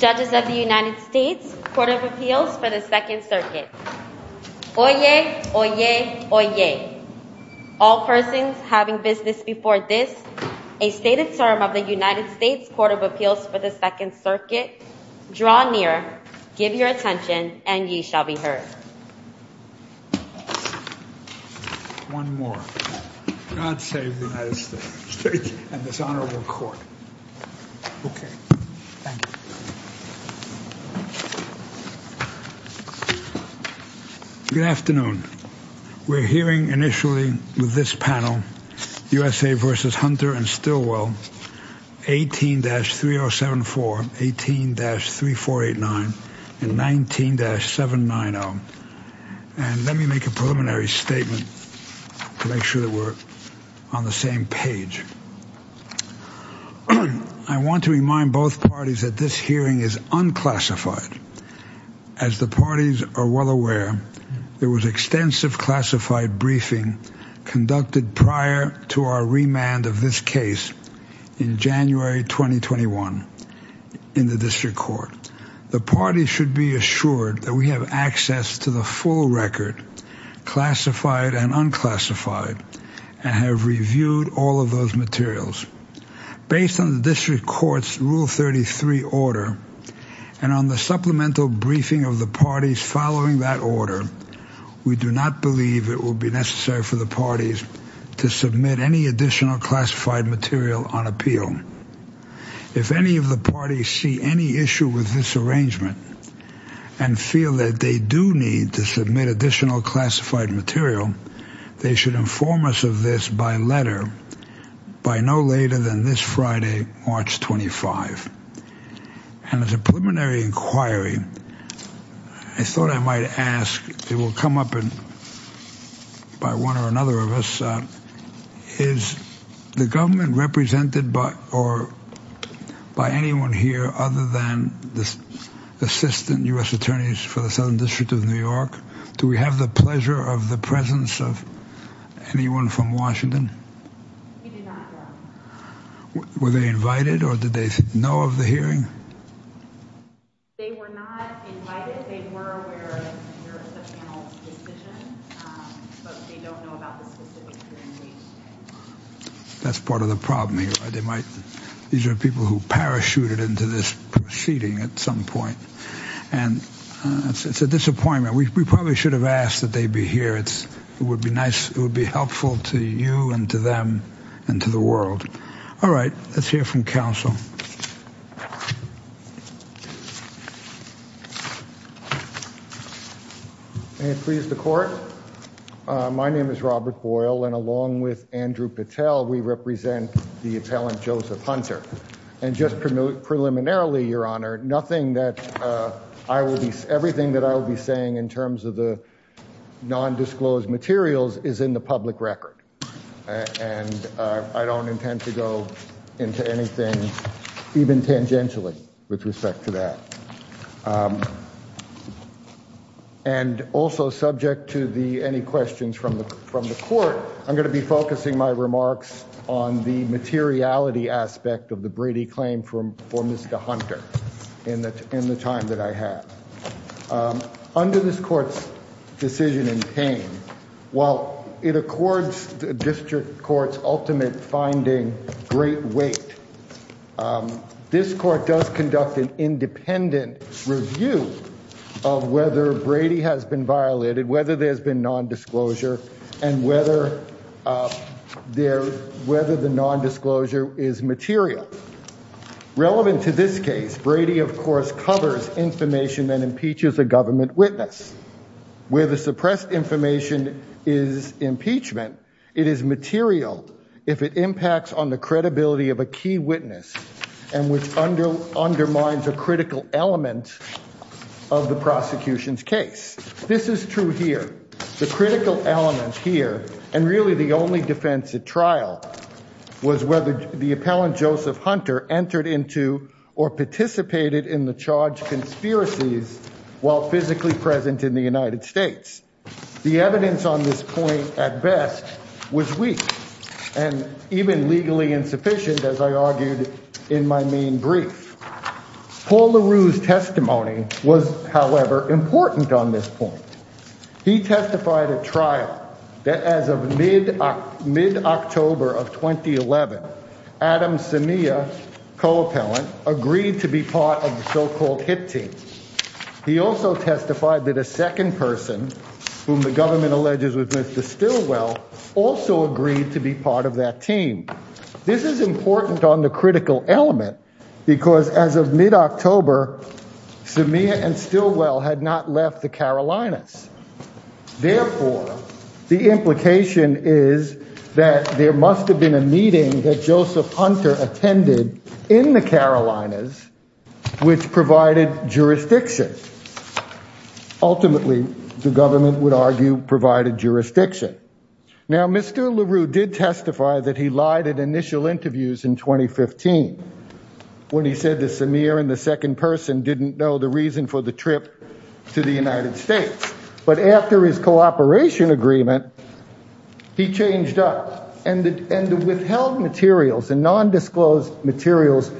Judges of the United States Court of Appeals for the Second Circuit. Oyez! Oyez! Oyez! All persons having business before this, a stated term of the United States Court of Appeals for the Second Circuit, draw near, give your attention, and ye shall be heard. One more. God save the United States and this honorable court. Okay. Thank you. Good afternoon. We're hearing initially with this panel, USA v. Hunter and Stillwell, 18-3074, 18-3489, and 19-790. And let me make a preliminary statement to make sure that we're on the same page. I want to remind both parties that this hearing is unclassified. As the parties are well aware, there was extensive classified briefing conducted prior to our remand of this case in January 2021 in the district court. The parties should be assured that we have access to the full record, classified and unclassified, and have reviewed all of those materials. Based on the district court's Rule 33 order and on the supplemental briefing of the parties following that order, we do not believe it will be necessary for the parties to submit any additional classified material on appeal. If any of the parties see any issue with this arrangement and feel that they do need to submit additional classified material, they should inform us of this by letter, by no later than this Friday, March 25. And as a preliminary inquiry, I thought I might ask, it will come up by one or another of us, is the government represented by anyone here other than the Assistant U.S. Attorneys for the Southern District of New York? Do we have the pleasure of the presence of anyone from Washington? We do not, Your Honor. Were they invited or did they know of the hearing? They were not invited. They were aware of the panel's decision, but they don't know about the specific hearing date. That's part of the problem here. These are people who parachuted into this proceeding at some point, and it's a disappointment. We probably should have asked that they be here. It would be helpful to you and to them and to the world. All right, let's hear from counsel. May it please the Court? My name is Robert Boyle, and along with Andrew Patel, we represent the appellant, Joseph Hunter. And just preliminarily, Your Honor, nothing that I will be – everything that I will be saying in terms of the nondisclosed materials is in the public record, and I don't intend to go into anything, even tangentially, with respect to that. And also, subject to any questions from the Court, I'm going to be focusing my remarks on the materiality aspect of the Brady claim for Mr. Hunter in the time that I have. Under this Court's decision in pain, while it accords the District Court's ultimate finding great weight, this Court does conduct an independent review of whether Brady has been violated, whether there's been nondisclosure, and whether the nondisclosure is material. Relevant to this case, Brady, of course, covers information that impeaches a government witness. Where the suppressed information is impeachment, it is material if it impacts on the credibility of a key witness and which undermines a critical element of the prosecution's case. This is true here. The critical element here, and really the only defense at trial, was whether the appellant, Joseph Hunter, entered into or participated in the charged conspiracies while physically present in the United States. The evidence on this point, at best, was weak and even legally insufficient, as I argued in my main brief. Paul LaRue's testimony was, however, important on this point. He testified at trial that as of mid-October of 2011, Adam Simea, co-appellant, agreed to be part of the so-called hit team. He also testified that a second person, whom the government alleges was Mr. Stilwell, also agreed to be part of that team. This is important on the critical element because as of mid-October, Simea and Stilwell had not left the Carolinas. Therefore, the implication is that there must have been a meeting that Joseph Hunter attended in the Carolinas, which provided jurisdiction. Ultimately, the government would argue, provided jurisdiction. Now, Mr. LaRue did testify that he lied at initial interviews in 2015 when he said that But after his cooperation agreement, he changed up. And the withheld materials and nondisclosed materials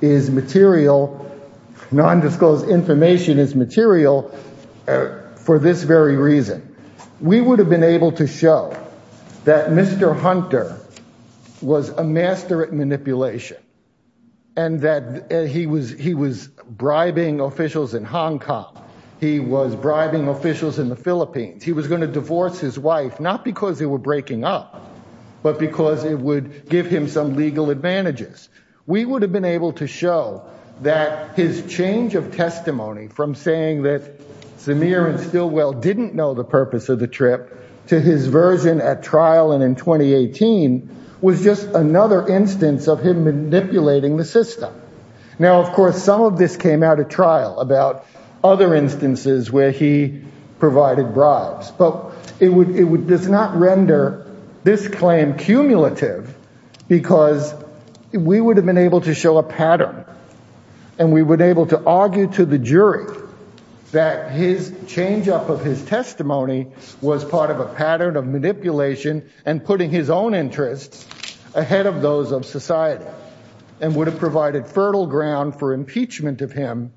is material, nondisclosed information is material for this very reason. We would have been able to show that Mr. Hunter was a master at manipulation and that he was bribing officials in the Philippines. He was going to divorce his wife, not because they were breaking up, but because it would give him some legal advantages. We would have been able to show that his change of testimony from saying that Simea and Stilwell didn't know the purpose of the trip to his version at trial and in 2018 was just another instance of him manipulating the system. Now, of course, some of this came out at trial about other instances where he provided bribes, but it does not render this claim cumulative because we would have been able to show a pattern and we would able to argue to the jury that his change up of his testimony was part of a pattern of manipulation and putting his own interests ahead of those of impeachment of him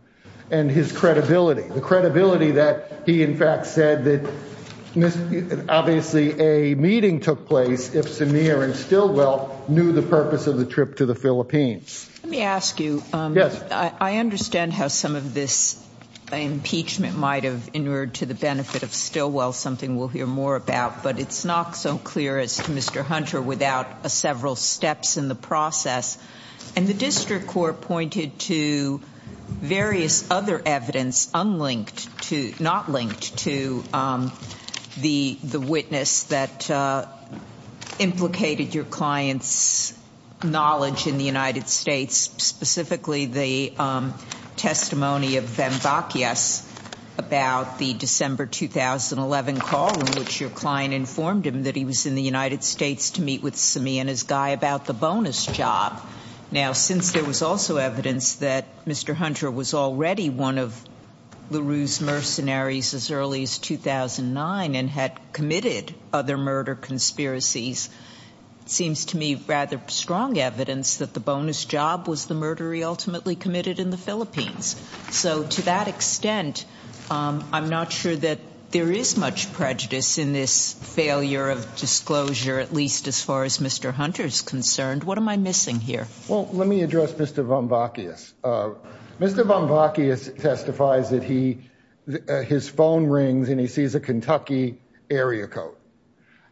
and his credibility. The credibility that he in fact said that obviously a meeting took place if Simea and Stilwell knew the purpose of the trip to the Philippines. Let me ask you, I understand how some of this impeachment might have inured to the benefit of Stilwell, something we'll hear more about, but it's not so clear as to Mr. Hunter without a several steps in the process and the district court pointed to various other evidence unlinked to, not linked to, the witness that implicated your client's knowledge in the United States, specifically the testimony of Van Vakias about the December 2011 call in which your client informed him that he was in the United States to meet with Simea and his guy about the bonus job. Now since there was also evidence that Mr. Hunter was already one of LaRue's mercenaries as early as 2009 and had committed other murder conspiracies, it seems to me rather strong evidence that the bonus job was the murder he ultimately committed in the Philippines. So to that extent, I'm not sure that there is much prejudice in this failure of disclosure at least as far as Mr. Hunter is concerned. What am I missing here? Well, let me address Mr. Van Vakias. Mr. Van Vakias testifies that his phone rings and he sees a Kentucky area code.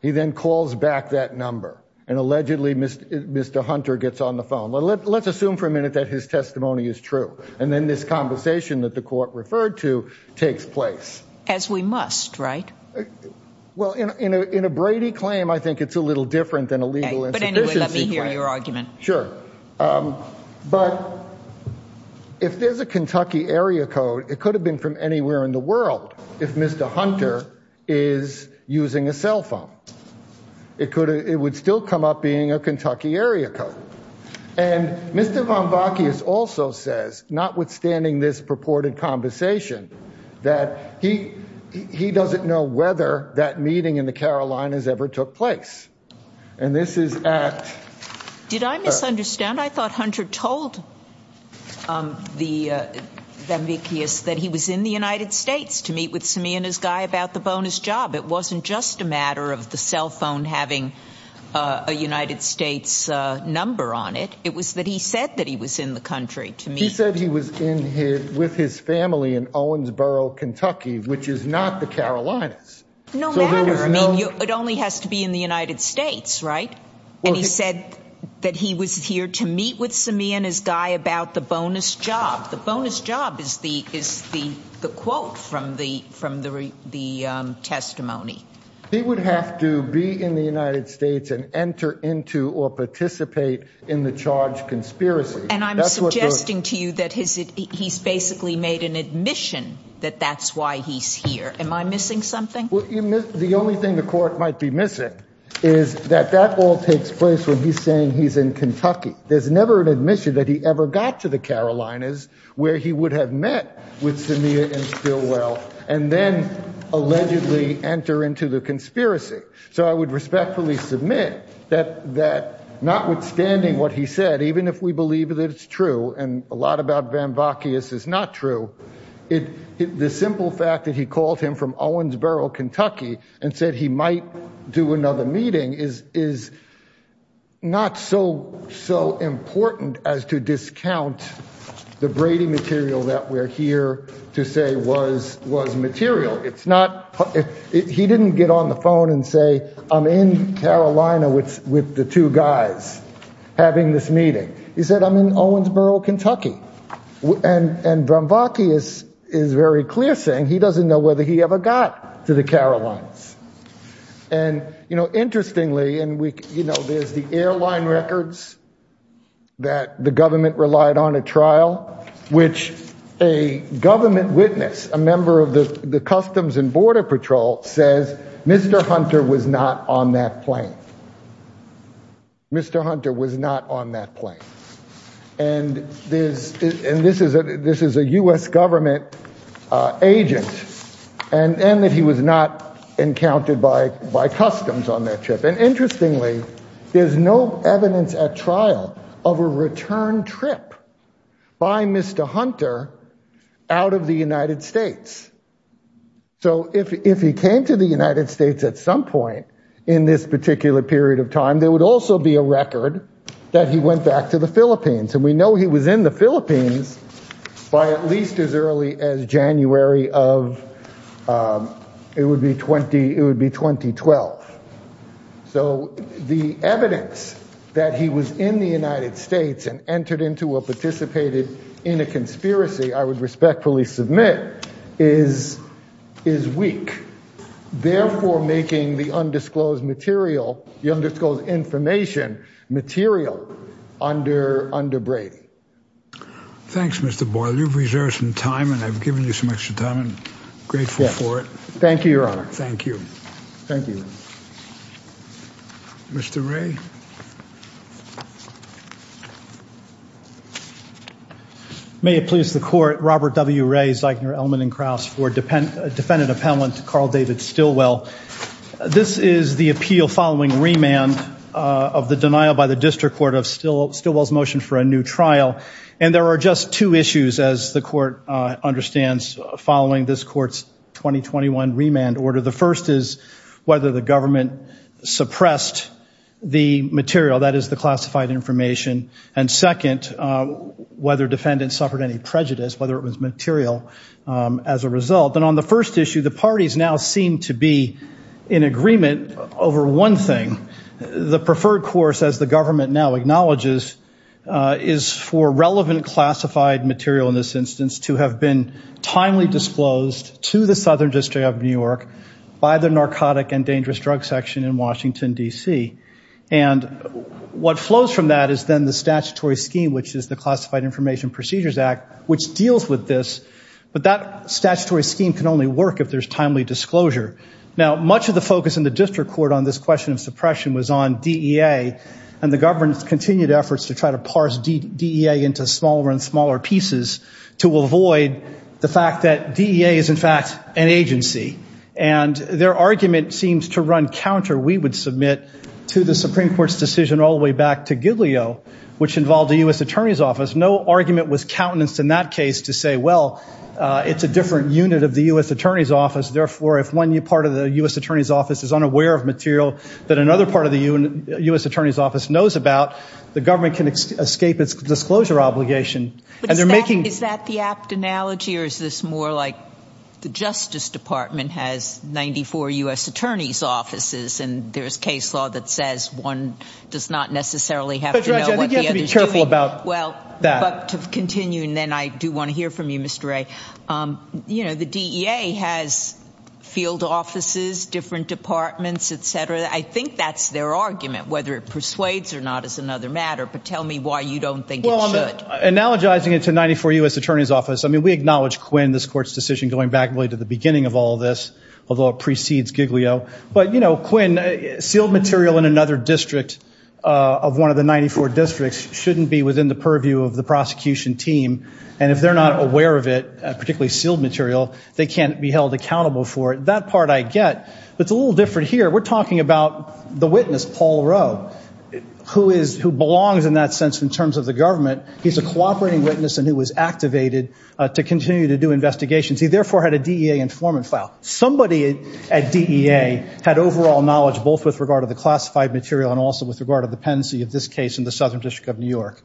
He then calls back that number and allegedly Mr. Hunter gets on the phone. Let's assume for a minute that his testimony is true and then this conversation that the court referred to takes place. As we must, right? Well, in a Brady claim, I think it's a little different than a legal insufficiency claim. But anyway, let me hear your argument. Sure. But if there's a Kentucky area code, it could have been from anywhere in the world if Mr. Hunter is using a cell phone. It would still come up being a Kentucky area code. And Mr. Van Vakias also says, notwithstanding this purported conversation, that he doesn't know whether that meeting in the Carolinas ever took place. And this is at... Did I misunderstand? I thought Hunter told Van Vakias that he was in the United States to meet with Simeon, his guy, about the bonus job. It wasn't just a matter of the cell phone having a United States number on it. It was that he said that he was in the country to meet. He said he was with his family in Owensboro, Kentucky, which is not the Carolinas. No matter. It only has to be in the United States, right? And he said that he was here to meet with Simeon, his guy, about the bonus job. The bonus job is the quote from the testimony. He would have to be in the United States and enter into or participate in the charge conspiracy. And I'm suggesting to you that he's basically made an admission that that's why he's here. Am I missing something? The only thing the court might be missing is that that all takes place when he's saying he's in Kentucky. There's never an admission that he ever got to the Carolinas where he would have met with Simeon and still well, and then allegedly enter into the conspiracy. So I would respectfully submit that that notwithstanding what he said, even if we believe that it's true and a lot about Van Vakias is not true. The simple fact that he called him from Owensboro, Kentucky, and said he might do another meeting is, is not so so important as to discount the Brady material that we're here to say was was material. It's not he didn't get on the phone and say, I'm in Carolina with with the two guys having this meeting. He said, I'm in Owensboro, Kentucky. And Van Vakias is very clear, saying he doesn't know whether he ever got to the Carolinas. And, you know, interestingly, and, you know, there's the airline records. That the government relied on a trial, which a government witness, a member of the Customs and Border Patrol, says Mr. Hunter was not on that plane. Mr. Hunter was not on that plane. And there's and this is a this is a U.S. government agent and that he was not encountered by by customs on that trip. And interestingly, there's no evidence at trial of a return trip by Mr. Hunter out of the United States. So if he came to the United States at some point in this particular period of time, there would also be a record that he went back to the Philippines. And we know he was in the Philippines by at least as early as January of. It would be 20. It would be 2012. So the evidence that he was in the United States and entered into a participated in a conspiracy, I would respectfully submit, is is weak. Therefore, making the undisclosed material, the undisclosed information material under under Brady. Thanks, Mr. Boyle. You've reserved some time and I've given you some extra time and grateful for it. Thank you, Your Honor. Thank you. Thank you, Mr. Ray. Thank you. May it please the court. Robert W. Ray, Zeichner, Ellman and Krauss for dependent defendant appellant, Carl David Stillwell. This is the appeal following remand of the denial by the district court of Stillwell's motion for a new trial. And there are just two issues, as the court understands, following this court's 2021 remand order. The first is whether the government suppressed the material that is the classified information. And second, whether defendants suffered any prejudice, whether it was material as a result. And on the first issue, the parties now seem to be in agreement over one thing. The preferred course, as the government now acknowledges, is for relevant classified material in this instance to have been by the Narcotic and Dangerous Drug Section in Washington, D.C. And what flows from that is then the statutory scheme, which is the Classified Information Procedures Act, which deals with this. But that statutory scheme can only work if there's timely disclosure. Now, much of the focus in the district court on this question of suppression was on D.E.A. And the government's continued efforts to try to parse D.E.A. into smaller and smaller pieces to avoid the fact that D.E.A. is, in fact, an agency. And their argument seems to run counter, we would submit, to the Supreme Court's decision all the way back to Giglio, which involved the U.S. Attorney's Office. No argument was countenanced in that case to say, well, it's a different unit of the U.S. Attorney's Office. Therefore, if one part of the U.S. Attorney's Office is unaware of material that another part of the U.S. Attorney's Office knows about, the government can escape its disclosure obligation. Is that the apt analogy, or is this more like the Justice Department has 94 U.S. Attorney's Offices and there's case law that says one does not necessarily have to know what the other is doing? But, Judge, I think you have to be careful about that. Well, but to continue, and then I do want to hear from you, Mr. Wray. You know, the D.E.A. has field offices, different departments, et cetera. I think that's their argument, whether it persuades or not is another matter. But tell me why you don't think it should. Well, I'm analogizing it to 94 U.S. Attorney's Office. I mean, we acknowledge Quinn, this court's decision going back really to the beginning of all this, although it precedes Giglio. But, you know, Quinn, sealed material in another district of one of the 94 districts shouldn't be within the purview of the prosecution team. And if they're not aware of it, particularly sealed material, they can't be held accountable for it. That part I get. But it's a little different here. We're talking about the witness, Paul Rowe, who belongs in that sense in terms of the government. He's a cooperating witness and who was activated to continue to do investigations. He therefore had a D.E.A. informant file. Somebody at D.E.A. had overall knowledge both with regard to the classified material and also with regard to the pendency of this case in the Southern District of New York.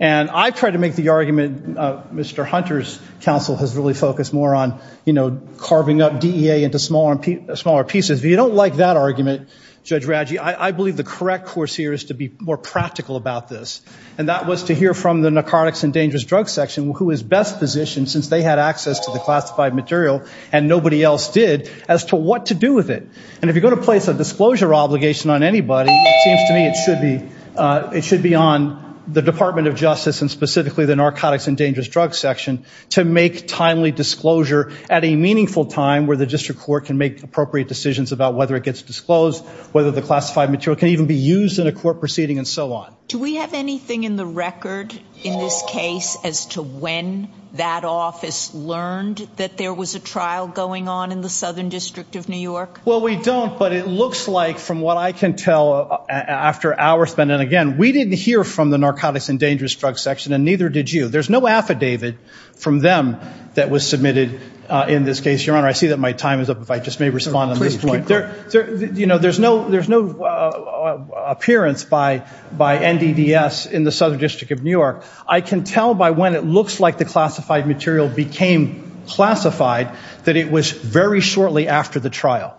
And I've tried to make the argument, Mr. Hunter's counsel has really focused more on, you know, carving up D.E.A. into smaller pieces. If you don't like that argument, Judge Raggi, I believe the correct course here is to be more practical about this. And that was to hear from the Narcotics and Dangerous Drug Section, who is best positioned since they had access to the classified material and nobody else did, as to what to do with it. And if you're going to place a disclosure obligation on anybody, it seems to me it should be on the Department of Justice and specifically the Narcotics and Dangerous Drug Section to make timely disclosure at a meaningful time where the district court can make appropriate decisions about whether it gets disclosed, whether the classified material can even be used in a court proceeding and so on. Do we have anything in the record in this case as to when that office learned that there was a trial going on in the Southern District of New York? Well, we don't, but it looks like from what I can tell after hours spent, and again, we didn't hear from the Narcotics and Dangerous Drug Section and neither did you. There's no affidavit from them that was submitted in this case, Your Honor. I see that my time is up, if I just may respond on this point. There's no appearance by NDDS in the Southern District of New York. I can tell by when it looks like the classified material became classified that it was very shortly after the trial.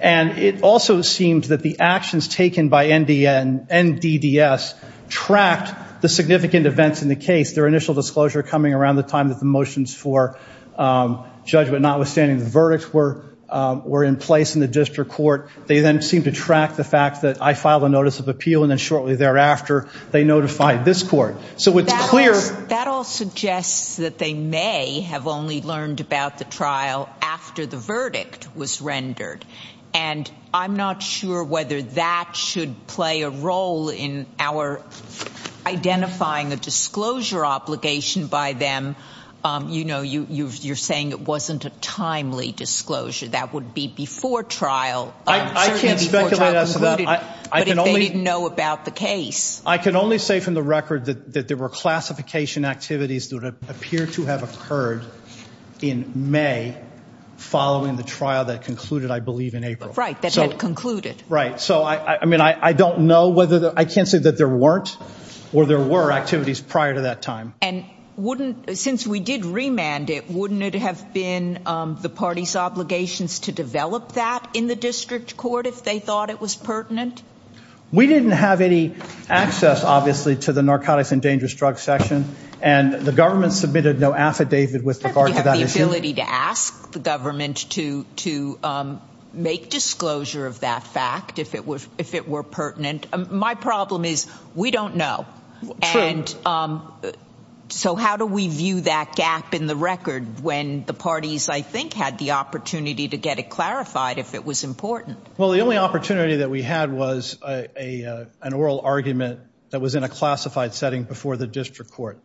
And it also seemed that the actions taken by NDDS tracked the significant events in the case, their initial disclosure coming around the time that the motions for judgment, notwithstanding the verdicts, were in place in the district court. They then seemed to track the fact that I filed a notice of appeal, and then shortly thereafter they notified this court. So it's clear. That all suggests that they may have only learned about the trial after the verdict was rendered, and I'm not sure whether that should play a role in our identifying a disclosure obligation by them. You know, you're saying it wasn't a timely disclosure. That would be before trial. I can't speculate as to that. But if they didn't know about the case. I can only say from the record that there were classification activities that would appear to have occurred in May following the trial that concluded, I believe, in April. Right, that had concluded. Right. So, I mean, I don't know whether, I can't say that there weren't or there were activities prior to that time. And wouldn't, since we did remand it, wouldn't it have been the party's obligations to develop that in the district court if they thought it was pertinent? We didn't have any access, obviously, to the narcotics and dangerous drugs section, and the government submitted no affidavit with regard to that issue. We had the ability to ask the government to make disclosure of that fact if it were pertinent. My problem is we don't know. And so how do we view that gap in the record when the parties, I think, had the opportunity to get it clarified if it was important? Well, the only opportunity that we had was an oral argument that was in a classified setting before the district court.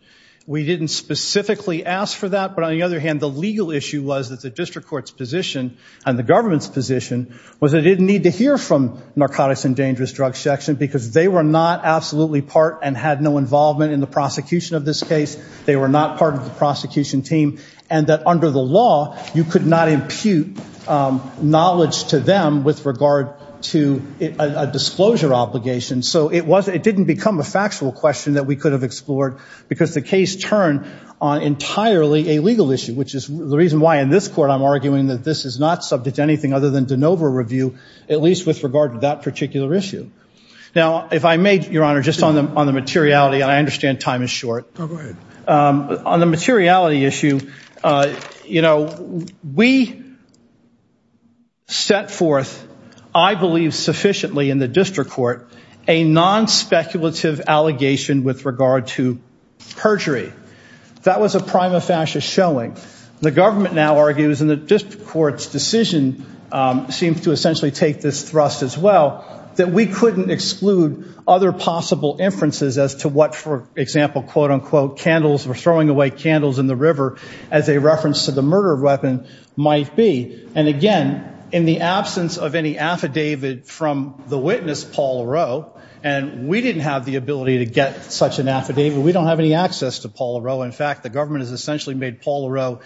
We didn't specifically ask for that. But on the other hand, the legal issue was that the district court's position and the government's position was that it didn't need to hear from narcotics and dangerous drugs section because they were not absolutely part and had no involvement in the prosecution of this case. They were not part of the prosecution team, and that under the law you could not impute knowledge to them with regard to a disclosure obligation. So it didn't become a factual question that we could have explored because the case turned on entirely a legal issue, which is the reason why in this court I'm arguing that this is not subject to anything other than de novo review, at least with regard to that particular issue. Now, if I may, Your Honor, just on the materiality, and I understand time is short. Go ahead. On the materiality issue, you know, we set forth, I believe sufficiently in the district court, a non-speculative allegation with regard to perjury. That was a prima facie showing. The government now argues in the district court's decision, seems to essentially take this thrust as well, that we couldn't exclude other possible inferences as to what, for example, quote, unquote, candles or throwing away candles in the river as a reference to the murder weapon might be. And again, in the absence of any affidavit from the witness, Paul O'Rourke, and we didn't have the ability to get such an affidavit. We don't have any access to Paul O'Rourke. In fact, the government has essentially made Paul O'Rourke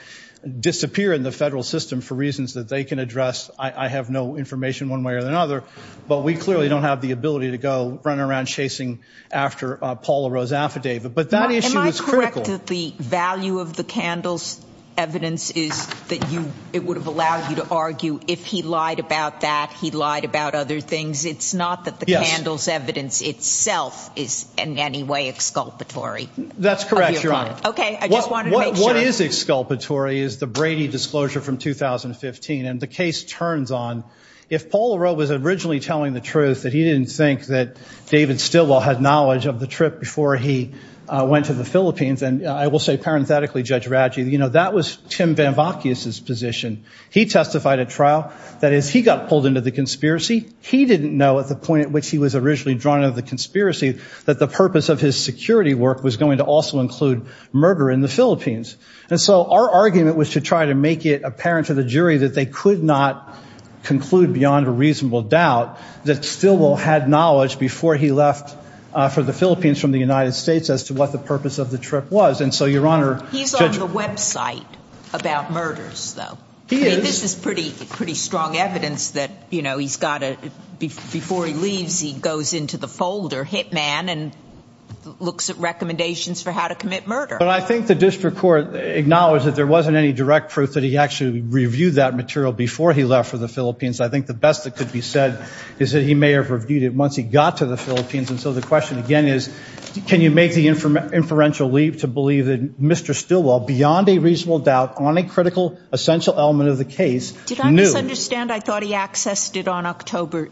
disappear in the federal system for reasons that they can address. I have no information one way or another. But we clearly don't have the ability to go running around chasing after Paul O'Rourke's affidavit. But that issue is critical. The value of the candle's evidence is that it would have allowed you to argue if he lied about that, he lied about other things. It's not that the candle's evidence itself is in any way exculpatory. That's correct, Your Honor. Okay. I just wanted to make sure. What is exculpatory is the Brady disclosure from 2015. And the case turns on. If Paul O'Rourke was originally telling the truth, that he didn't think that David Stilwell had knowledge of the trip before he went to the Philippines, and I will say parenthetically, Judge Radji, that was Tim Van Vakias' position. He testified at trial. That is, he got pulled into the conspiracy. He didn't know at the point at which he was originally drawn into the conspiracy that the purpose of his security work was going to also include murder in the Philippines. And so our argument was to try to make it apparent to the jury that they could not conclude beyond a reasonable doubt that Stilwell had knowledge before he left for the Philippines from the United States as to what the purpose of the trip was. And so, Your Honor, Judge – He's on the website about murders, though. He is. I mean, this is pretty strong evidence that, you know, he's got a – before he leaves, he goes into the folder, HITMAN, and looks at recommendations for how to commit murder. But I think the district court acknowledged that there wasn't any direct proof that he actually reviewed that material before he left for the Philippines. I think the best that could be said is that he may have reviewed it once he got to the Philippines. And so the question, again, is can you make the inferential leap to believe that Mr. Stilwell, beyond a reasonable doubt, on a critical essential element of the case, knew. Did I misunderstand? I thought he accessed it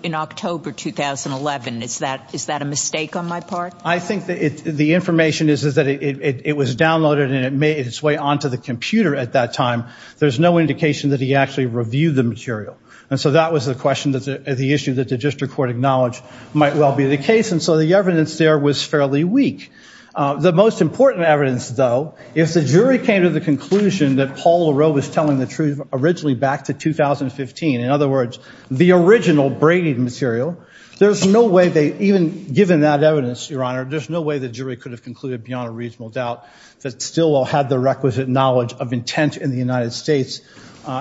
in October 2011. Is that a mistake on my part? I think the information is that it was downloaded and it made its way onto the computer at that time. There's no indication that he actually reviewed the material. And so that was the question, the issue that the district court acknowledged might well be the case. And so the evidence there was fairly weak. The most important evidence, though, is the jury came to the conclusion that Paul LaRoe was telling the truth originally back to 2015, in other words, the original Brady material. There's no way they – even given that evidence, Your Honor, there's no way the jury could have concluded beyond a reasonable doubt that Stilwell had the requisite knowledge of intent in the United States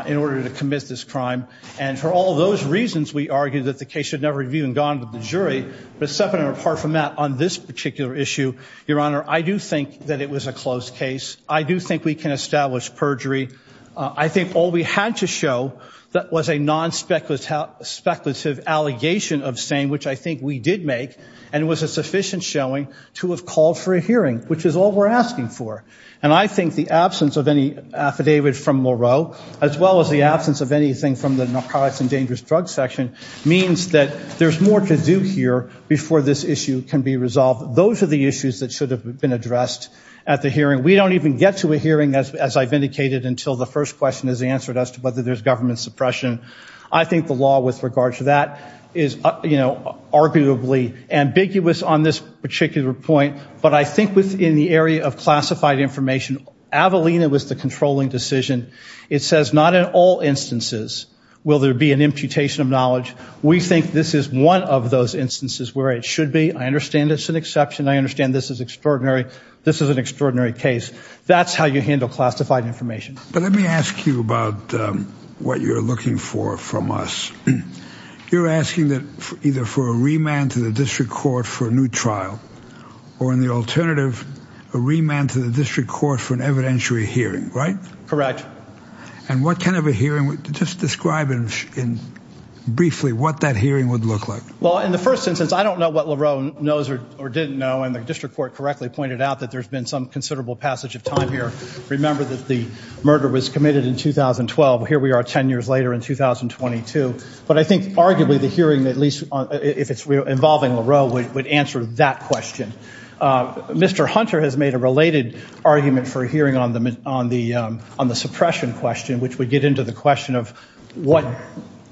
in order to commit this crime. And for all those reasons, we argue that the case should never have even gone to the jury. But separate and apart from that, on this particular issue, Your Honor, I do think that it was a closed case. I do think we can establish perjury. I think all we had to show that was a non-speculative allegation of saying, which I think we did make, and it was a sufficient showing to have called for a hearing, which is all we're asking for. And I think the absence of any affidavit from LaRoe, as well as the absence of anything from the narcotics and dangerous drugs section, means that there's more to do here before this issue can be resolved. Those are the issues that should have been addressed at the hearing. We don't even get to a hearing, as I've indicated, until the first question is answered as to whether there's government suppression. I think the law with regard to that is, you know, arguably ambiguous on this particular point. But I think within the area of classified information, Avelina was the controlling decision. It says not in all instances will there be an imputation of knowledge. We think this is one of those instances where it should be. I understand it's an exception. I understand this is extraordinary. This is an extraordinary case. That's how you handle classified information. But let me ask you about what you're looking for from us. You're asking either for a remand to the district court for a new trial or, in the alternative, a remand to the district court for an evidentiary hearing, right? Correct. And what kind of a hearing? Just describe briefly what that hearing would look like. Well, in the first instance, I don't know what LaRoe knows or didn't know, and the district court correctly pointed out that there's been some considerable passage of time here. Remember that the murder was committed in 2012. Here we are 10 years later in 2022. But I think arguably the hearing, at least if it's involving LaRoe, would answer that question. Mr. Hunter has made a related argument for a hearing on the suppression question, which would get into the question of what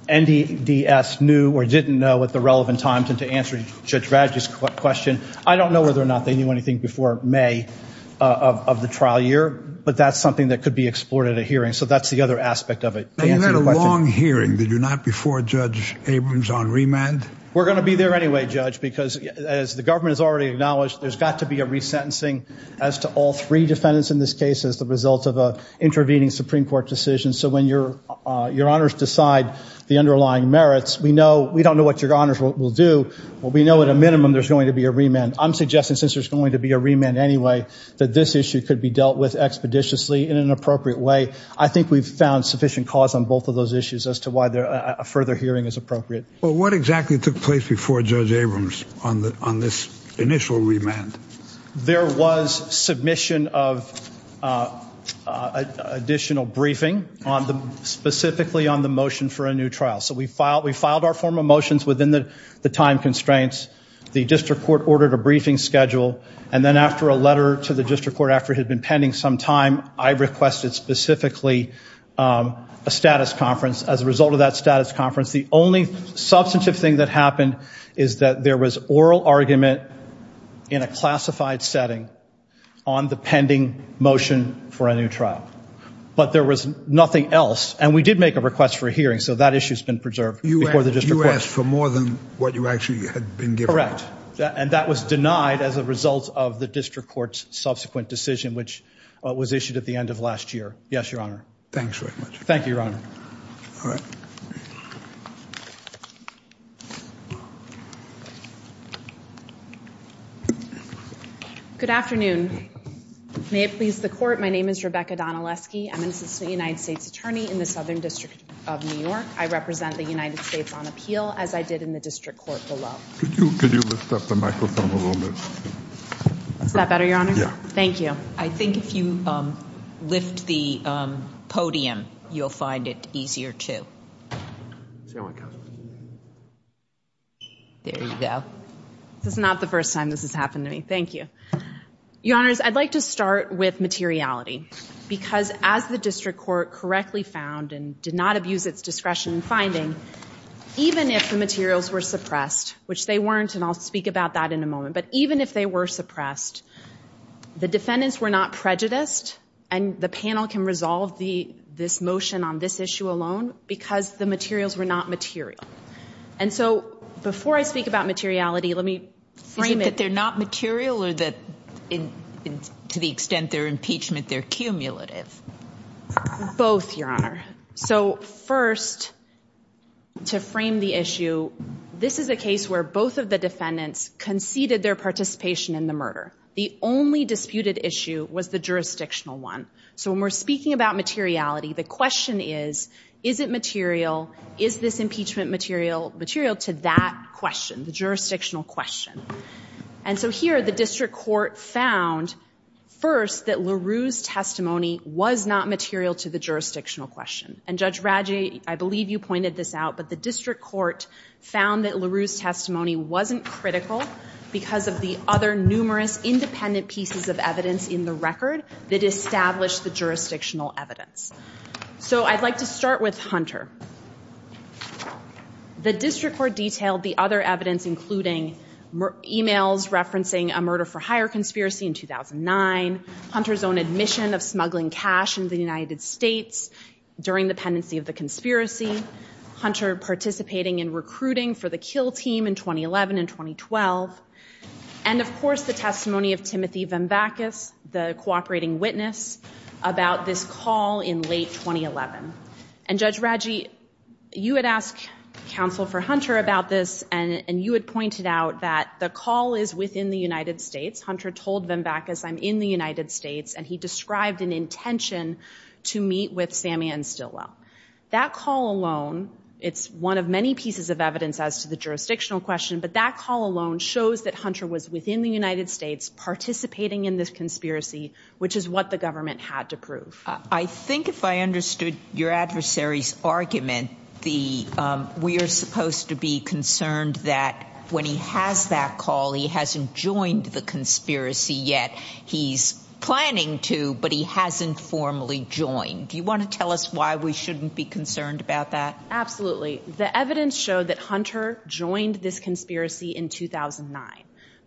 NDDS knew or didn't know at the relevant time to answer Judge Radji's question. I don't know whether or not they knew anything before May of the trial year, but that's something that could be explored at a hearing. So that's the other aspect of it. You had a long hearing. Did you not before Judge Abrams on remand? We're going to be there anyway, Judge, because, as the government has already acknowledged, there's got to be a resentencing as to all three defendants in this case as the result of an intervening Supreme Court decision. So when your honors decide the underlying merits, we don't know what your honors will do, but we know at a minimum there's going to be a remand. I'm suggesting, since there's going to be a remand anyway, that this issue could be dealt with expeditiously in an appropriate way. I think we've found sufficient cause on both of those issues as to why a further hearing is appropriate. Well, what exactly took place before Judge Abrams on this initial remand? There was submission of additional briefing, specifically on the motion for a new trial. So we filed our form of motions within the time constraints. The district court ordered a briefing schedule, and then after a letter to the district court after it had been pending some time, I requested specifically a status conference. As a result of that status conference, the only substantive thing that happened is that there was oral argument in a classified setting on the pending motion for a new trial. But there was nothing else, and we did make a request for a hearing, so that issue's been preserved before the district court. You asked for more than what you actually had been given. Correct, and that was denied as a result of the district court's subsequent decision, which was issued at the end of last year. Yes, Your Honor. Thanks very much. Thank you, Your Honor. All right. Good afternoon. May it please the court, my name is Rebecca Donaleski. I'm an assistant United States attorney in the Southern District of New York. I represent the United States on appeal, as I did in the district court below. Could you lift up the microphone a little bit? Is that better, Your Honor? Yeah. Thank you. I think if you lift the podium, you'll find it easier, too. There you go. This is not the first time this has happened to me. Thank you. Your Honors, I'd like to start with materiality, because as the district court correctly found and did not abuse its discretion in finding, even if the materials were suppressed, which they weren't, and I'll speak about that in a moment, but even if they were suppressed, the defendants were not prejudiced, and the panel can resolve this motion on this issue alone because the materials were not material. And so before I speak about materiality, let me frame it. To the extent that they're not material or to the extent they're impeachment, they're cumulative? Both, Your Honor. So first, to frame the issue, this is a case where both of the defendants conceded their participation in the murder. The only disputed issue was the jurisdictional one. So when we're speaking about materiality, the question is, is it material? Is this impeachment material to that question, the jurisdictional question? And so here, the district court found, first, that LaRue's testimony was not material to the jurisdictional question. And Judge Raggi, I believe you pointed this out, but the district court found that LaRue's testimony wasn't critical because of the other numerous independent pieces of evidence in the record that established the jurisdictional evidence. So I'd like to start with Hunter. The district court detailed the other evidence, including emails referencing a murder-for-hire conspiracy in 2009, Hunter's own admission of smuggling cash into the United States during the pendency of the conspiracy, Hunter participating in recruiting for the kill team in 2011 and 2012, and, of course, the testimony of Timothy Vemvakis, the cooperating witness, about this call in late 2011. And, Judge Raggi, you had asked counsel for Hunter about this, and you had pointed out that the call is within the United States. Hunter told Vemvakis, I'm in the United States, and he described an intention to meet with Sammy and Stilwell. That call alone, it's one of many pieces of evidence as to the jurisdictional question, but that call alone shows that Hunter was within the United States participating in this conspiracy, which is what the government had to prove. I think if I understood your adversary's argument, we are supposed to be concerned that when he has that call, he hasn't joined the conspiracy yet. He's planning to, but he hasn't formally joined. Do you want to tell us why we shouldn't be concerned about that? Absolutely. The evidence showed that Hunter joined this conspiracy in 2009.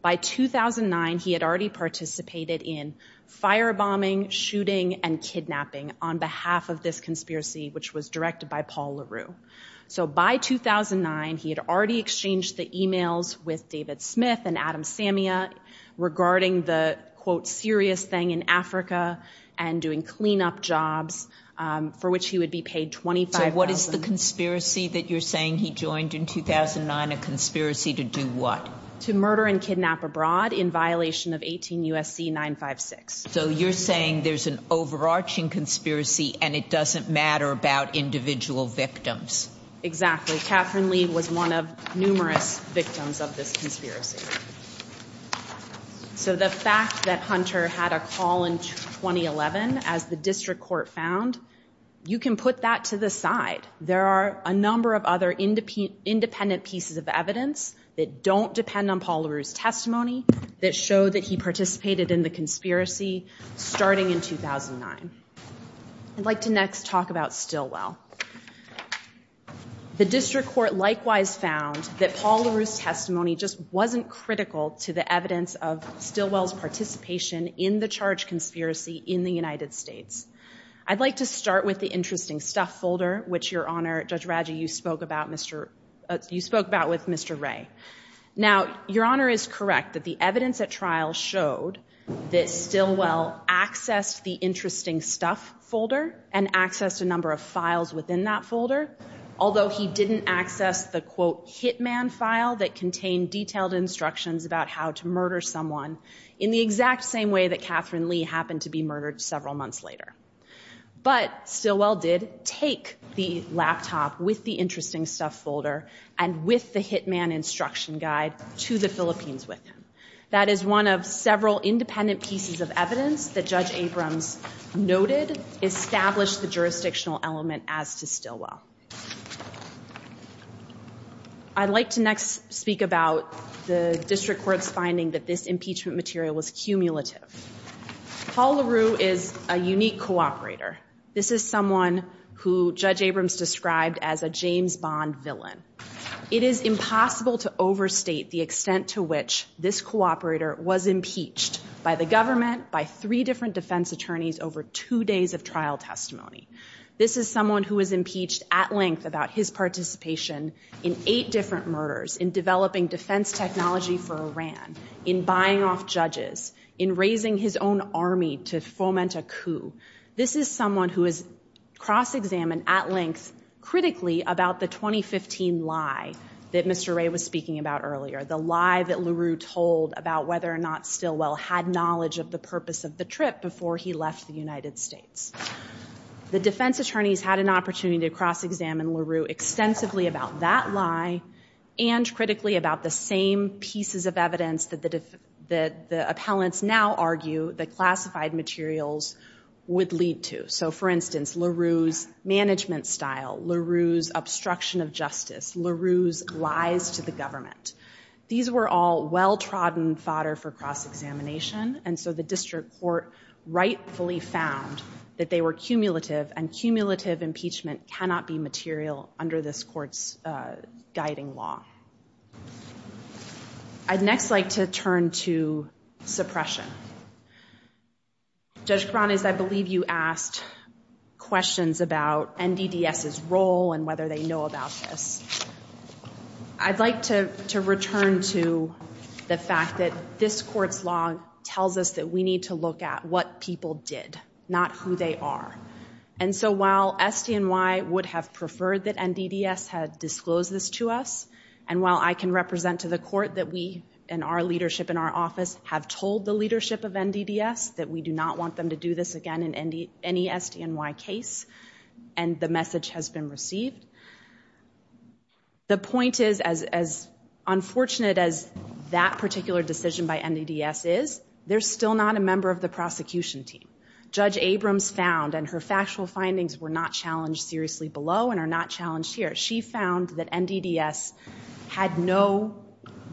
By 2009, he had already participated in firebombing, shooting, and kidnapping on behalf of this conspiracy, which was directed by Paul LaRue. So by 2009, he had already exchanged the emails with David Smith and Adam Samia regarding the, quote, serious thing in Africa and doing cleanup jobs for which he would be paid $25,000. So what is the conspiracy that you're saying he joined in 2009, a conspiracy to do what? To murder and kidnap abroad in violation of 18 U.S.C. 956. So you're saying there's an overarching conspiracy and it doesn't matter about individual victims. Exactly. Catherine Lee was one of numerous victims of this conspiracy. So the fact that Hunter had a call in 2011, as the district court found, you can put that to the side. There are a number of other independent pieces of evidence that don't depend on Paul LaRue's testimony that show that he participated in the conspiracy starting in 2009. I'd like to next talk about Stilwell. The district court likewise found that Paul LaRue's testimony just wasn't critical to the evidence of Stilwell's participation in the charge conspiracy in the United States. I'd like to start with the interesting stuff folder, which, Your Honor, Judge Radji, you spoke about with Mr. Ray. Now, Your Honor is correct that the evidence at trial showed that Stilwell accessed the interesting stuff folder and accessed a number of files within that folder, although he didn't access the, quote, hitman file that contained detailed instructions about how to murder someone in the exact same way that Catherine Lee happened to be murdered several months later. But Stilwell did take the laptop with the interesting stuff folder and with the hitman instruction guide to the Philippines with him. That is one of several independent pieces of evidence that Judge Abrams noted established the jurisdictional element as to Stilwell. I'd like to next speak about the district court's finding that this impeachment material was cumulative. Paul LaRue is a unique cooperator. This is someone who Judge Abrams described as a James Bond villain. It is impossible to overstate the extent to which this cooperator was impeached by the government, by three different defense attorneys over two days of trial testimony. This is someone who was impeached at length about his participation in eight different murders, in developing defense technology for Iran, in buying off judges, in raising his own army to foment a coup. This is someone who has cross-examined at length critically about the 2015 lie that Mr. Ray was speaking about earlier, the lie that LaRue told about whether or not Stilwell had knowledge of the purpose of the trip before he left the United States. The defense attorneys had an opportunity to cross-examine LaRue extensively about that lie and critically about the same pieces of evidence that the appellants now argue that classified materials would lead to. So, for instance, LaRue's management style, LaRue's obstruction of justice, LaRue's lies to the government. These were all well-trodden fodder for cross-examination, and so the district court rightfully found that they were cumulative, and cumulative impeachment cannot be material under this court's guiding law. I'd next like to turn to suppression. Judge Cronin, I believe you asked questions about NDDS's role and whether they know about this. I'd like to return to the fact that this court's law tells us that we need to look at what people did, not who they are. And so while SDNY would have preferred that NDDS had disclosed this to us, and while I can represent to the court that we, in our leadership in our office, have told the leadership of NDDS that we do not want them to do this again in any SDNY case, and the message has been received, the point is, as unfortunate as that particular decision by NDDS is, they're still not a member of the prosecution team. Judge Abrams found, and her factual findings were not challenged seriously below and are not challenged here, she found that NDDS had no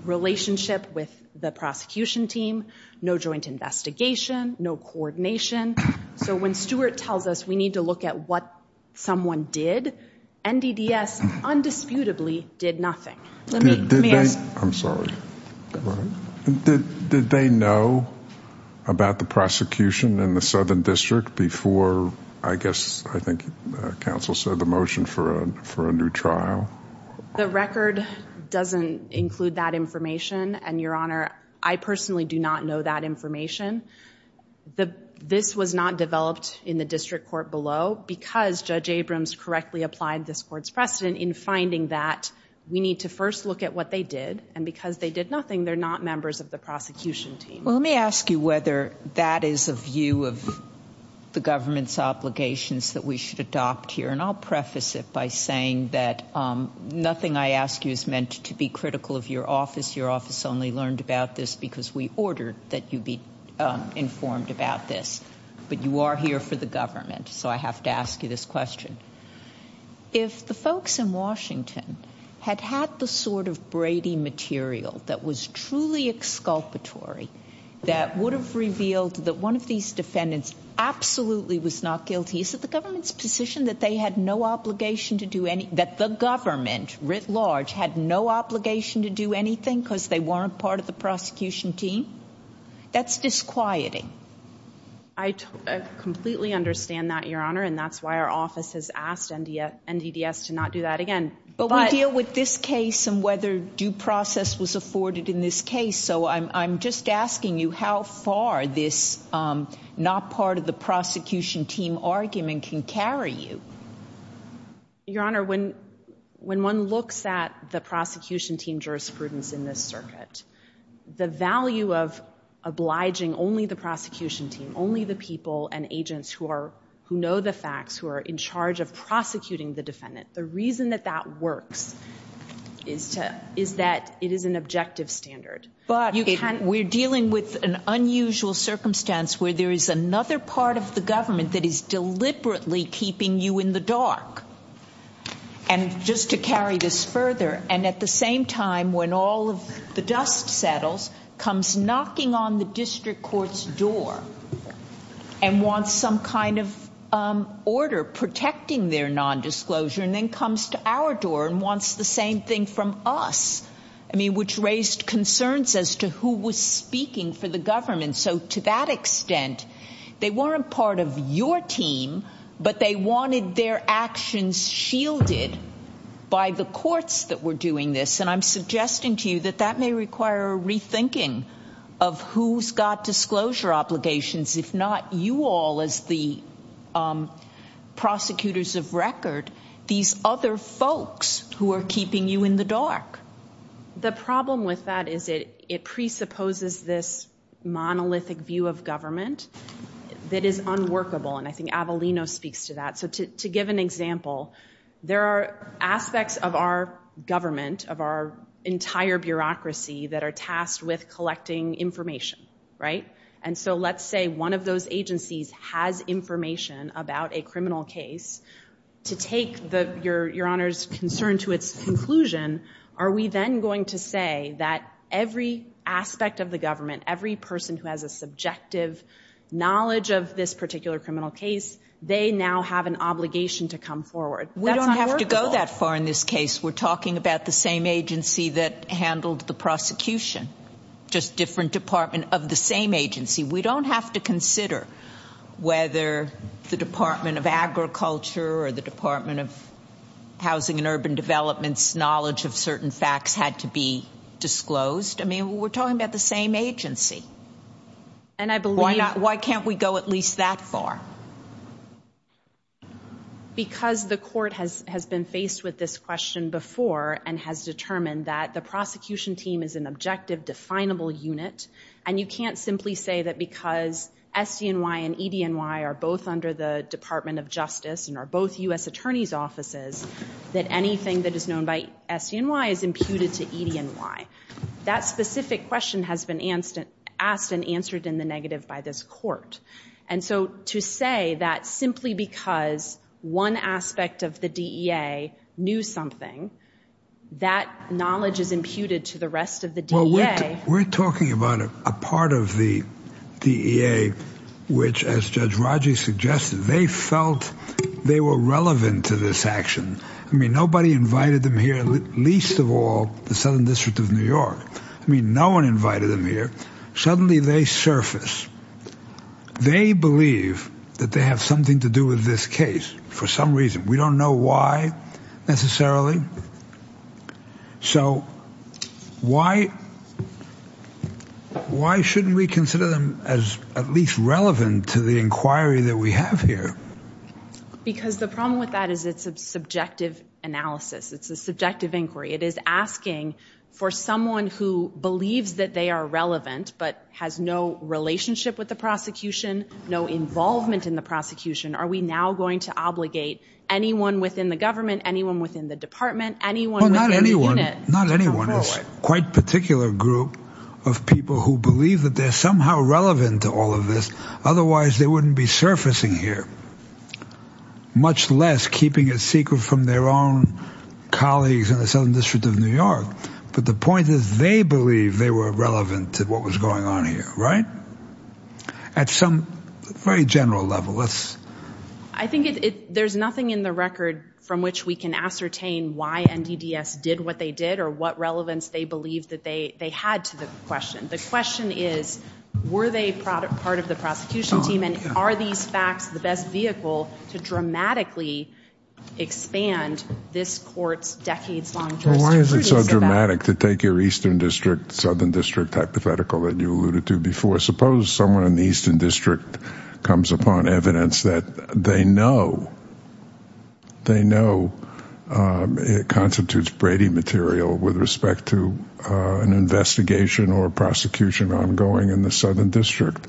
relationship with the prosecution team, no joint investigation, no coordination. So when Stewart tells us we need to look at what someone did, NDDS undisputably did nothing. I'm sorry. Did they know about the prosecution in the Southern District before, I guess, I think, counsel said the motion for a new trial? The record doesn't include that information, and, Your Honor, I personally do not know that information. This was not developed in the district court below because Judge Abrams correctly applied this court's precedent in finding that we need to first look at what they did, and because they did nothing, they're not members of the prosecution team. Well, let me ask you whether that is a view of the government's obligations that we should adopt here, and I'll preface it by saying that nothing I ask you is meant to be critical of your office. Your office only learned about this because we ordered that you be informed about this, but you are here for the government, so I have to ask you this question. If the folks in Washington had had the sort of Brady material that was truly exculpatory that would have revealed that one of these defendants absolutely was not guilty, is it the government's position that they had no obligation to do any, that the government, writ large, had no obligation to do anything because they weren't part of the prosecution team? That's disquieting. I completely understand that, Your Honor, and that's why our office has asked NDDS to not do that again. But we deal with this case and whether due process was afforded in this case, so I'm just asking you how far this not part of the prosecution team argument can carry you. Your Honor, when one looks at the prosecution team jurisprudence in this circuit, the value of obliging only the prosecution team, only the people and agents who know the facts, who are in charge of prosecuting the defendant, the reason that that works is that it is an objective standard. But we're dealing with an unusual circumstance where there is another part of the government that is deliberately keeping you in the dark. And just to carry this further, and at the same time when all of the dust settles, comes knocking on the district court's door and wants some kind of order protecting their nondisclosure and then comes to our door and wants the same thing from us, which raised concerns as to who was speaking for the government. So to that extent, they weren't part of your team, but they wanted their actions shielded by the courts that were doing this. And I'm suggesting to you that that may require a rethinking of who's got disclosure obligations, if not you all as the prosecutors of record, these other folks who are keeping you in the dark. The problem with that is it presupposes this monolithic view of government that is unworkable, and I think Avelino speaks to that. So to give an example, there are aspects of our government, of our entire bureaucracy, that are tasked with collecting information, right? And so let's say one of those agencies has information about a criminal case. To take your Honor's concern to its conclusion, are we then going to say that every aspect of the government, every person who has a subjective knowledge of this particular criminal case, they now have an obligation to come forward? That's not workable. We don't have to go that far in this case. We're talking about the same agency that handled the prosecution, just different department of the same agency. We don't have to consider whether the Department of Agriculture or the Department of Housing and Urban Development's knowledge of certain facts had to be disclosed. I mean, we're talking about the same agency. Why can't we go at least that far? Because the court has been faced with this question before and has determined that the prosecution team is an objective, definable unit, and you can't simply say that because SDNY and EDNY are both under the Department of Justice and are both U.S. attorneys' offices, that anything that is known by SDNY is imputed to EDNY. That specific question has been asked and answered in the negative by this court. And so to say that simply because one aspect of the DEA knew something, that knowledge is imputed to the rest of the DEA. Well, we're talking about a part of the DEA which, as Judge Raji suggested, they felt they were relevant to this action. I mean, nobody invited them here, least of all the Southern District of New York. I mean, no one invited them here. Suddenly they surface. They believe that they have something to do with this case for some reason. We don't know why, necessarily. So why shouldn't we consider them as at least relevant to the inquiry that we have here? Because the problem with that is it's a subjective analysis. It's a subjective inquiry. It is asking for someone who believes that they are relevant but has no relationship with the prosecution, no involvement in the prosecution, are we now going to obligate anyone within the government, anyone within the department, anyone within the unit? Well, not anyone. Not anyone. It's a quite particular group of people who believe that they're somehow relevant to all of this. Otherwise, they wouldn't be surfacing here, much less keeping it secret from their own colleagues in the Southern District of New York. But the point is they believe they were relevant to what was going on here, right? At some very general level. I think there's nothing in the record from which we can ascertain why NDDS did what they did or what relevance they believe that they had to the question. The question is were they part of the prosecution team and are these facts the best vehicle to dramatically expand this court's decades-long jurisdiction? Well, why is it so dramatic to take your Eastern District, Southern District hypothetical that you alluded to before? Suppose someone in the Eastern District comes upon evidence that they know it constitutes Brady material with respect to an investigation or prosecution ongoing in the Southern District.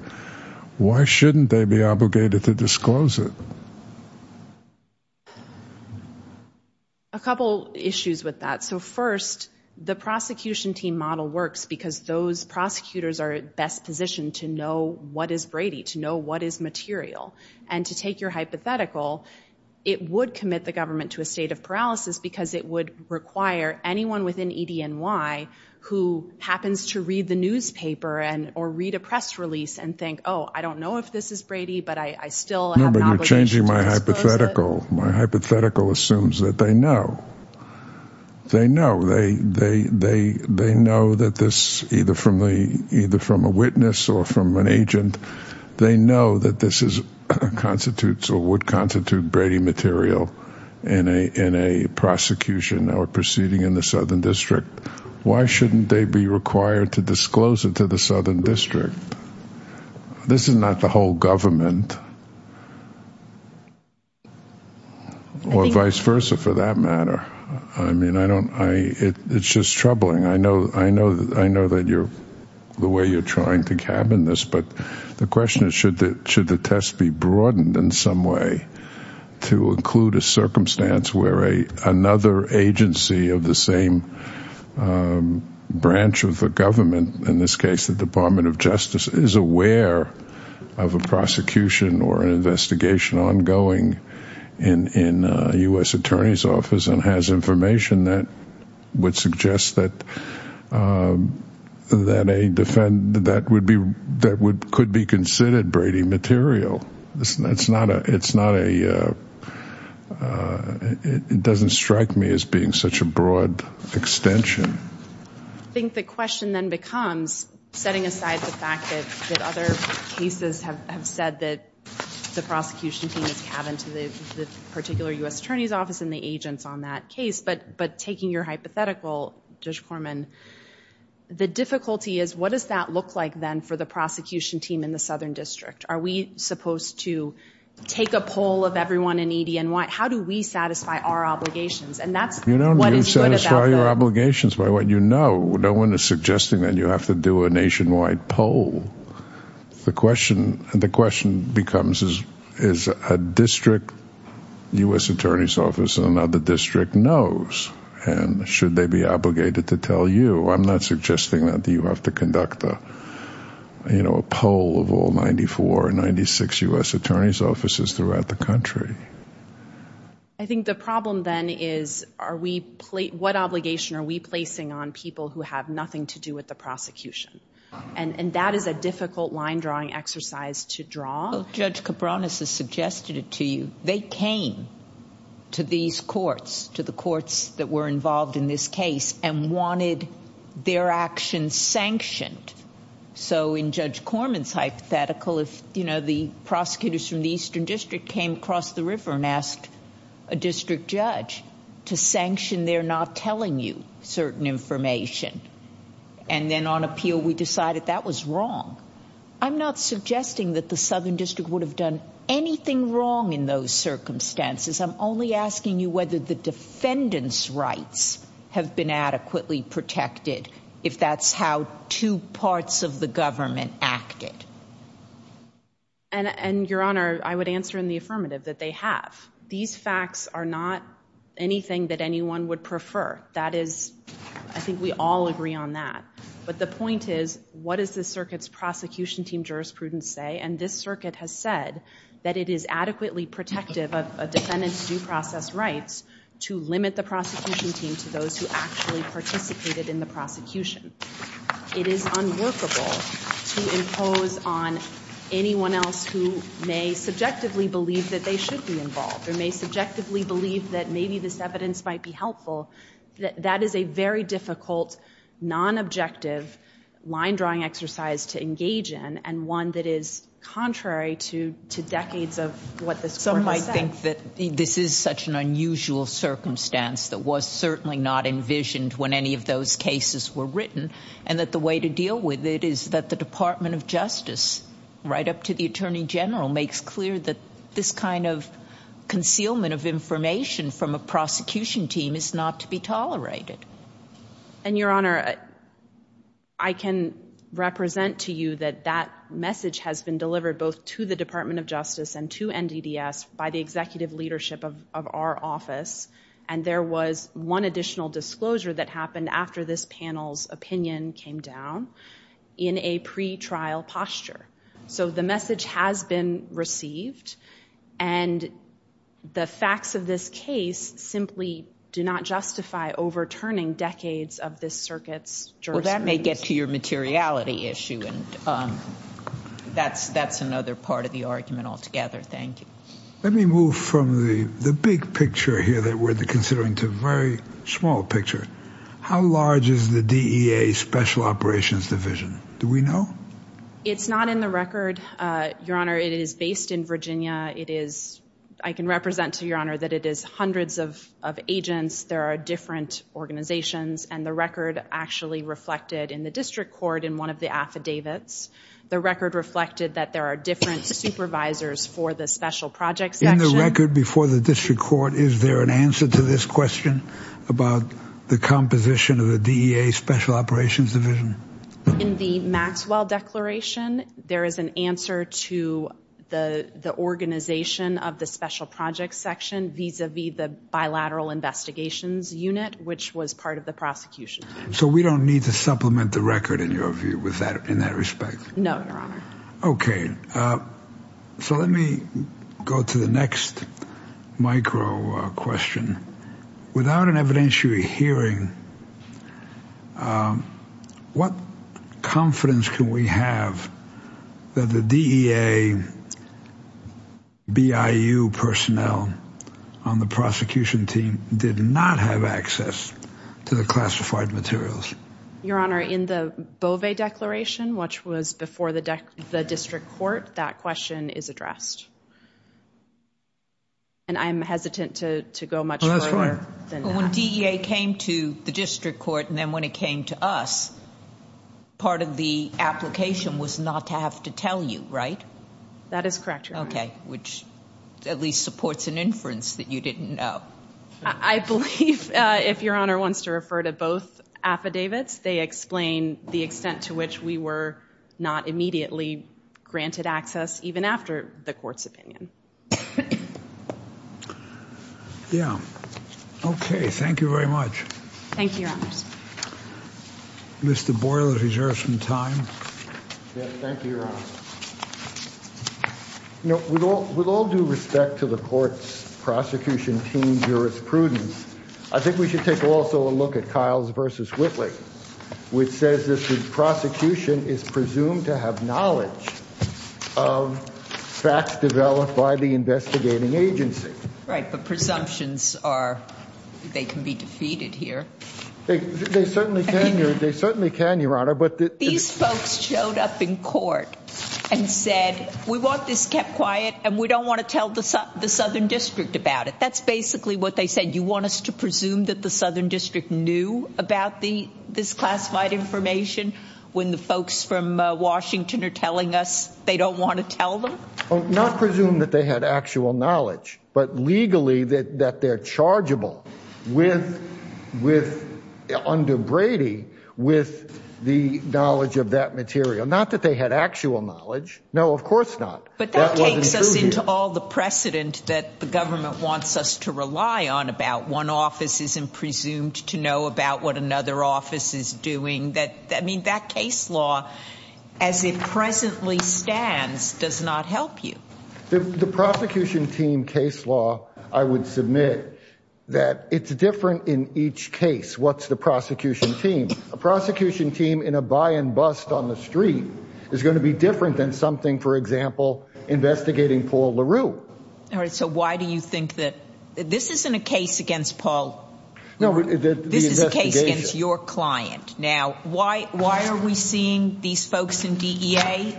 Why shouldn't they be obligated to disclose it? A couple issues with that. So first, the prosecution team model works because those prosecutors are best positioned to know what is Brady, to know what is material. And to take your hypothetical, it would commit the government to a state of paralysis because it would require anyone within EDNY who happens to read the newspaper or read a press release and think, oh, I don't know if this is Brady, but I still have an obligation to disclose it. No, but you're changing my hypothetical. My hypothetical assumes that they know. They know. They know that this, either from a witness or from an agent, they know that this constitutes or would constitute Brady material in a prosecution or proceeding in the Southern District. Why shouldn't they be required to disclose it to the Southern District? This is not the whole government. Or vice versa, for that matter. I mean, I don't, it's just troubling. I know that you're, the way you're trying to cabin this, but the question is should the test be broadened in some way to include a circumstance where another agency of the same branch of the government, in this case the Department of Justice, is aware of a prosecution or an investigation ongoing in a U.S. attorney's office and has information that would suggest that could be considered Brady material. It's not a, it doesn't strike me as being such a broad extension. I think the question then becomes, setting aside the fact that other cases have said that the prosecution team is cabin to the particular U.S. attorney's office and the agents on that case, but taking your hypothetical, Judge Korman, the difficulty is what does that look like then for the prosecution team in the Southern District? Are we supposed to take a poll of everyone in EDNY? How do we satisfy our obligations? You don't need to satisfy your obligations by what you know. No one is suggesting that you have to do a nationwide poll. The question becomes is a district U.S. attorney's office in another district knows, and should they be obligated to tell you? I'm not suggesting that you have to conduct a poll of all 94 or 96 U.S. attorney's offices throughout the country. I think the problem then is are we, what obligation are we placing on people who have nothing to do with the prosecution? And that is a difficult line drawing exercise to draw. Judge Cabranes has suggested it to you. They came to these courts, to the courts that were involved in this case, and wanted their actions sanctioned. So in Judge Korman's hypothetical, if the prosecutors from the Eastern District came across the river and asked a district judge to sanction their not telling you certain information, and then on appeal we decided that was wrong, I'm not suggesting that the Southern District would have done anything wrong in those circumstances. I'm only asking you whether the defendant's rights have been adequately protected, if that's how two parts of the government acted. And, Your Honor, I would answer in the affirmative that they have. These facts are not anything that anyone would prefer. That is, I think we all agree on that. But the point is, what does the circuit's prosecution team jurisprudence say? And this circuit has said that it is adequately protective of a defendant's due process rights to limit the prosecution team to those who actually participated in the prosecution. It is unworkable to impose on anyone else who may subjectively believe that they should be involved or may subjectively believe that maybe this evidence might be helpful. That is a very difficult, non-objective line-drawing exercise to engage in and one that is contrary to decades of what this Court has said. Some might think that this is such an unusual circumstance that was certainly not envisioned when any of those cases were written and that the way to deal with it is that the Department of Justice, right up to the Attorney General, makes clear that this kind of concealment of information from a prosecution team is not to be tolerated. And, Your Honor, I can represent to you that that message has been delivered both to the Department of Justice and to NDDS by the executive leadership of our office. And there was one additional disclosure that happened after this panel's opinion came down in a pretrial posture. So the message has been received and the facts of this case simply do not justify overturning decades of this circuit's jurisprudence. Well, that may get to your materiality issue and that's another part of the argument altogether. Thank you. Let me move from the big picture here that we're considering to a very small picture. How large is the DEA Special Operations Division? Do we know? It's not in the record, Your Honor. It is based in Virginia. I can represent to you, Your Honor, that it is hundreds of agents. There are different organizations and the record actually reflected in the district court in one of the affidavits. The record reflected that there are different supervisors for the Special Projects Section. In the record before the district court, is there an answer to this question about the composition of the DEA Special Operations Division? In the Maxwell Declaration, there is an answer to the organization of the Special Projects Section vis-a-vis the Bilateral Investigations Unit, which was part of the prosecution. So we don't need to supplement the record in your view in that respect? No, Your Honor. Okay. So let me go to the next micro question. Without an evidentiary hearing, what confidence can we have that the DEA BIU personnel on the prosecution team did not have access to the classified materials? Your Honor, in the Bovee Declaration, which was before the district court, that question is addressed. And I'm hesitant to go much further than that. When DEA came to the district court and then when it came to us, part of the application was not to have to tell you, right? That is correct, Your Honor. Okay. Which at least supports an inference that you didn't know. I believe if Your Honor wants to refer to both affidavits, they explain the extent to which we were not immediately granted access even after the court's opinion. Yeah. Okay. Thank you very much. Thank you, Your Honor. Mr. Boyle, if you reserve some time. Thank you, Your Honor. With all due respect to the court's prosecution team's jurisprudence, I think we should take also a look at Kyles v. Whitley, which says this prosecution is presumed to have knowledge of facts developed by the investigating agency. Right. But presumptions are, they can be defeated here. They certainly can, Your Honor. These folks showed up in court and said, we want this kept quiet and we don't want to tell the Southern District about it. That's basically what they said. You want us to presume that the Southern District knew about this classified information when the folks from Washington are telling us they don't want to tell them? Not presume that they had actual knowledge, but legally that they're chargeable under Brady with the knowledge of that material. Not that they had actual knowledge. No, of course not. But that takes us into all the precedent that the government wants us to rely on about one office isn't presumed to know about what another office is doing. I mean, that case law, as it presently stands, does not help you. The prosecution team case law, I would submit that it's different in each case. What's the prosecution team? A prosecution team in a buy and bust on the street is going to be different than something, for example, investigating Paul LaRue. All right. So why do you think that this isn't a case against Paul? No, this is a case against your client. Now, why are we seeing these folks in DEA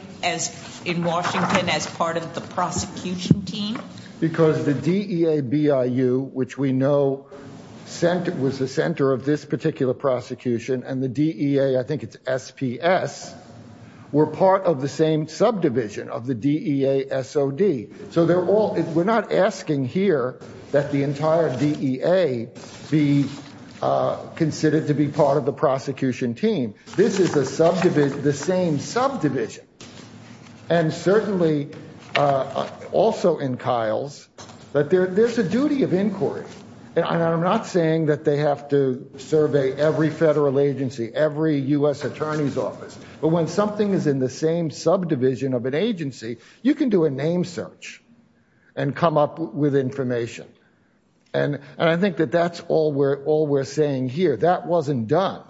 in Washington as part of the prosecution team? Because the DEA BIU, which we know was the center of this particular prosecution, and the DEA, I think it's SPS, were part of the same subdivision of the DEA SOD. So they're all we're not asking here that the entire DEA be considered to be part of the prosecution team. This is a subdivision, the same subdivision. And certainly also in Kyle's. But there's a duty of inquiry. And I'm not saying that they have to survey every federal agency, every U.S. attorney's office. But when something is in the same subdivision of an agency, you can do a name search and come up with information. And I think that that's all we're all we're saying here. That wasn't done.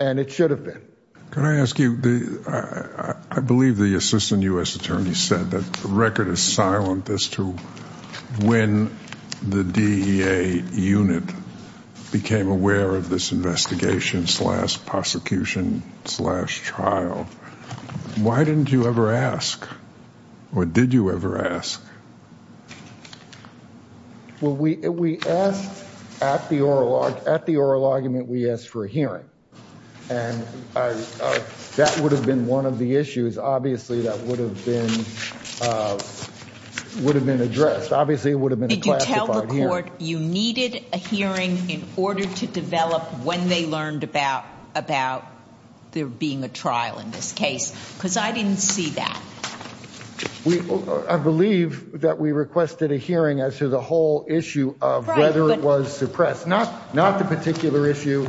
And it should have been. Can I ask you, I believe the assistant U.S. attorney said that the record is silent as to when the DEA unit became aware of this investigation slash prosecution slash trial. Why didn't you ever ask or did you ever ask? Well, we we asked at the oral at the oral argument, we asked for a hearing. And that would have been one of the issues, obviously, that would have been would have been addressed. Obviously, it would have been here. You needed a hearing in order to develop when they learned about about there being a trial in this case, because I didn't see that. I believe that we requested a hearing as to the whole issue of whether it was suppressed, not not the particular issue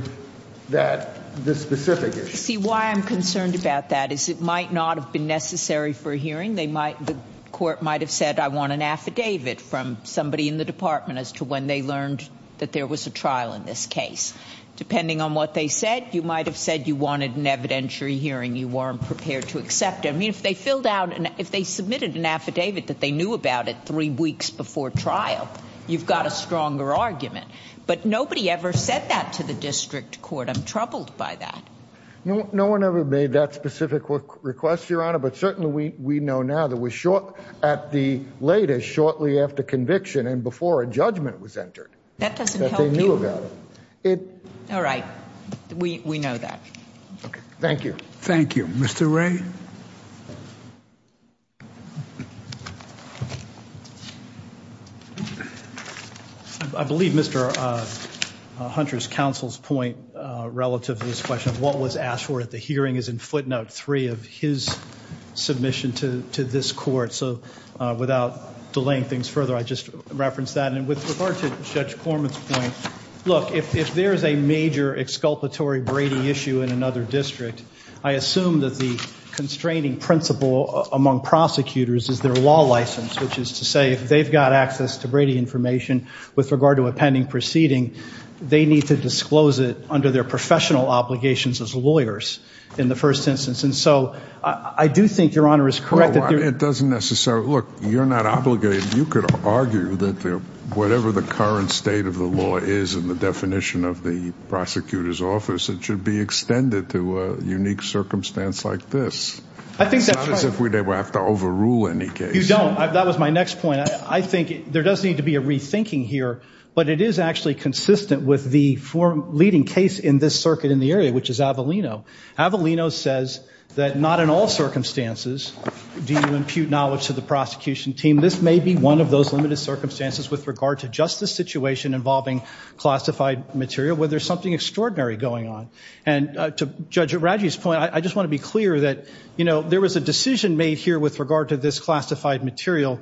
that this specific issue. See why I'm concerned about that is it might not have been necessary for a hearing. They might the court might have said, I want an affidavit from somebody in the department as to when they learned that there was a trial in this case. Depending on what they said, you might have said you wanted an evidentiary hearing. You weren't prepared to accept. I mean, if they filled out and if they submitted an affidavit that they knew about it three weeks before trial, you've got a stronger argument. But nobody ever said that to the district court. I'm troubled by that. No, no one ever made that specific request, Your Honor. But certainly we we know now that we're short at the latest shortly after conviction and before a judgment was entered. That doesn't tell you about it. All right. We know that. Thank you. Thank you, Mr. Ray. I believe Mr. Hunter's counsel's point relative to this question of what was asked for at the hearing is in footnote three of his submission to this court. So without delaying things further, I just referenced that. And with regard to Judge Corman's point, look, if there is a major exculpatory Brady issue in another district, I assume that the constraining principle among prosecutors is their law license, which is to say if they've got access to Brady information with regard to a pending proceeding, they need to disclose it under their professional obligations as lawyers in the first instance. And so I do think your honor is correct. It doesn't necessarily look. You're not obligated. You could argue that whatever the current state of the law is in the definition of the prosecutor's office, it should be extended to a unique circumstance like this. I think that's if we have to overrule any case. You don't. That was my next point. I think there does need to be a rethinking here. But it is actually consistent with the four leading case in this circuit in the area, which is Avellino. Avellino says that not in all circumstances do you impute knowledge to the prosecution team. This may be one of those limited circumstances with regard to just the situation involving classified material where there's something extraordinary going on. And to Judge Raji's point, I just want to be clear that, you know, there was a decision made here with regard to this classified material.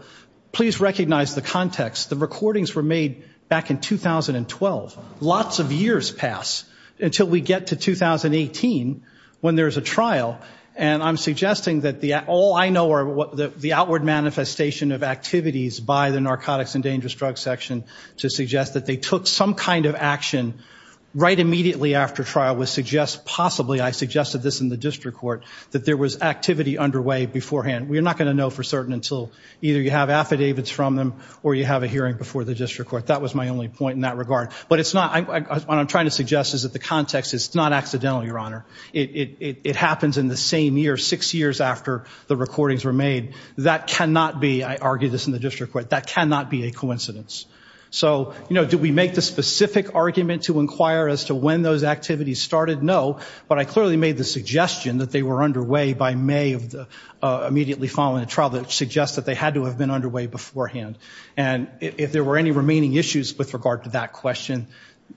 Please recognize the context. The recordings were made back in 2012. Lots of years pass until we get to 2018 when there is a trial. And I'm suggesting that all I know are the outward manifestation of activities by the Narcotics and Dangerous Drugs Section to suggest that they took some kind of action right immediately after trial would suggest possibly, I suggested this in the district court, that there was activity underway beforehand. We're not going to know for certain until either you have affidavits from them or you have a hearing before the district court. That was my only point in that regard. But it's not, what I'm trying to suggest is that the context is not accidental, Your Honor. It happens in the same year, six years after the recordings were made. That cannot be, I argue this in the district court, that cannot be a coincidence. So, you know, do we make the specific argument to inquire as to when those activities started? No. But I clearly made the suggestion that they were underway by May of the immediately following the trial that suggests that they had to have been underway beforehand. And if there were any remaining issues with regard to that question,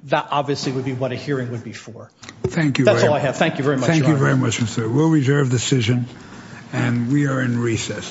that obviously would be what a hearing would be for. Thank you. That's all I have. Thank you very much. Thank you very much, Mr. We'll reserve decision and we are in recess.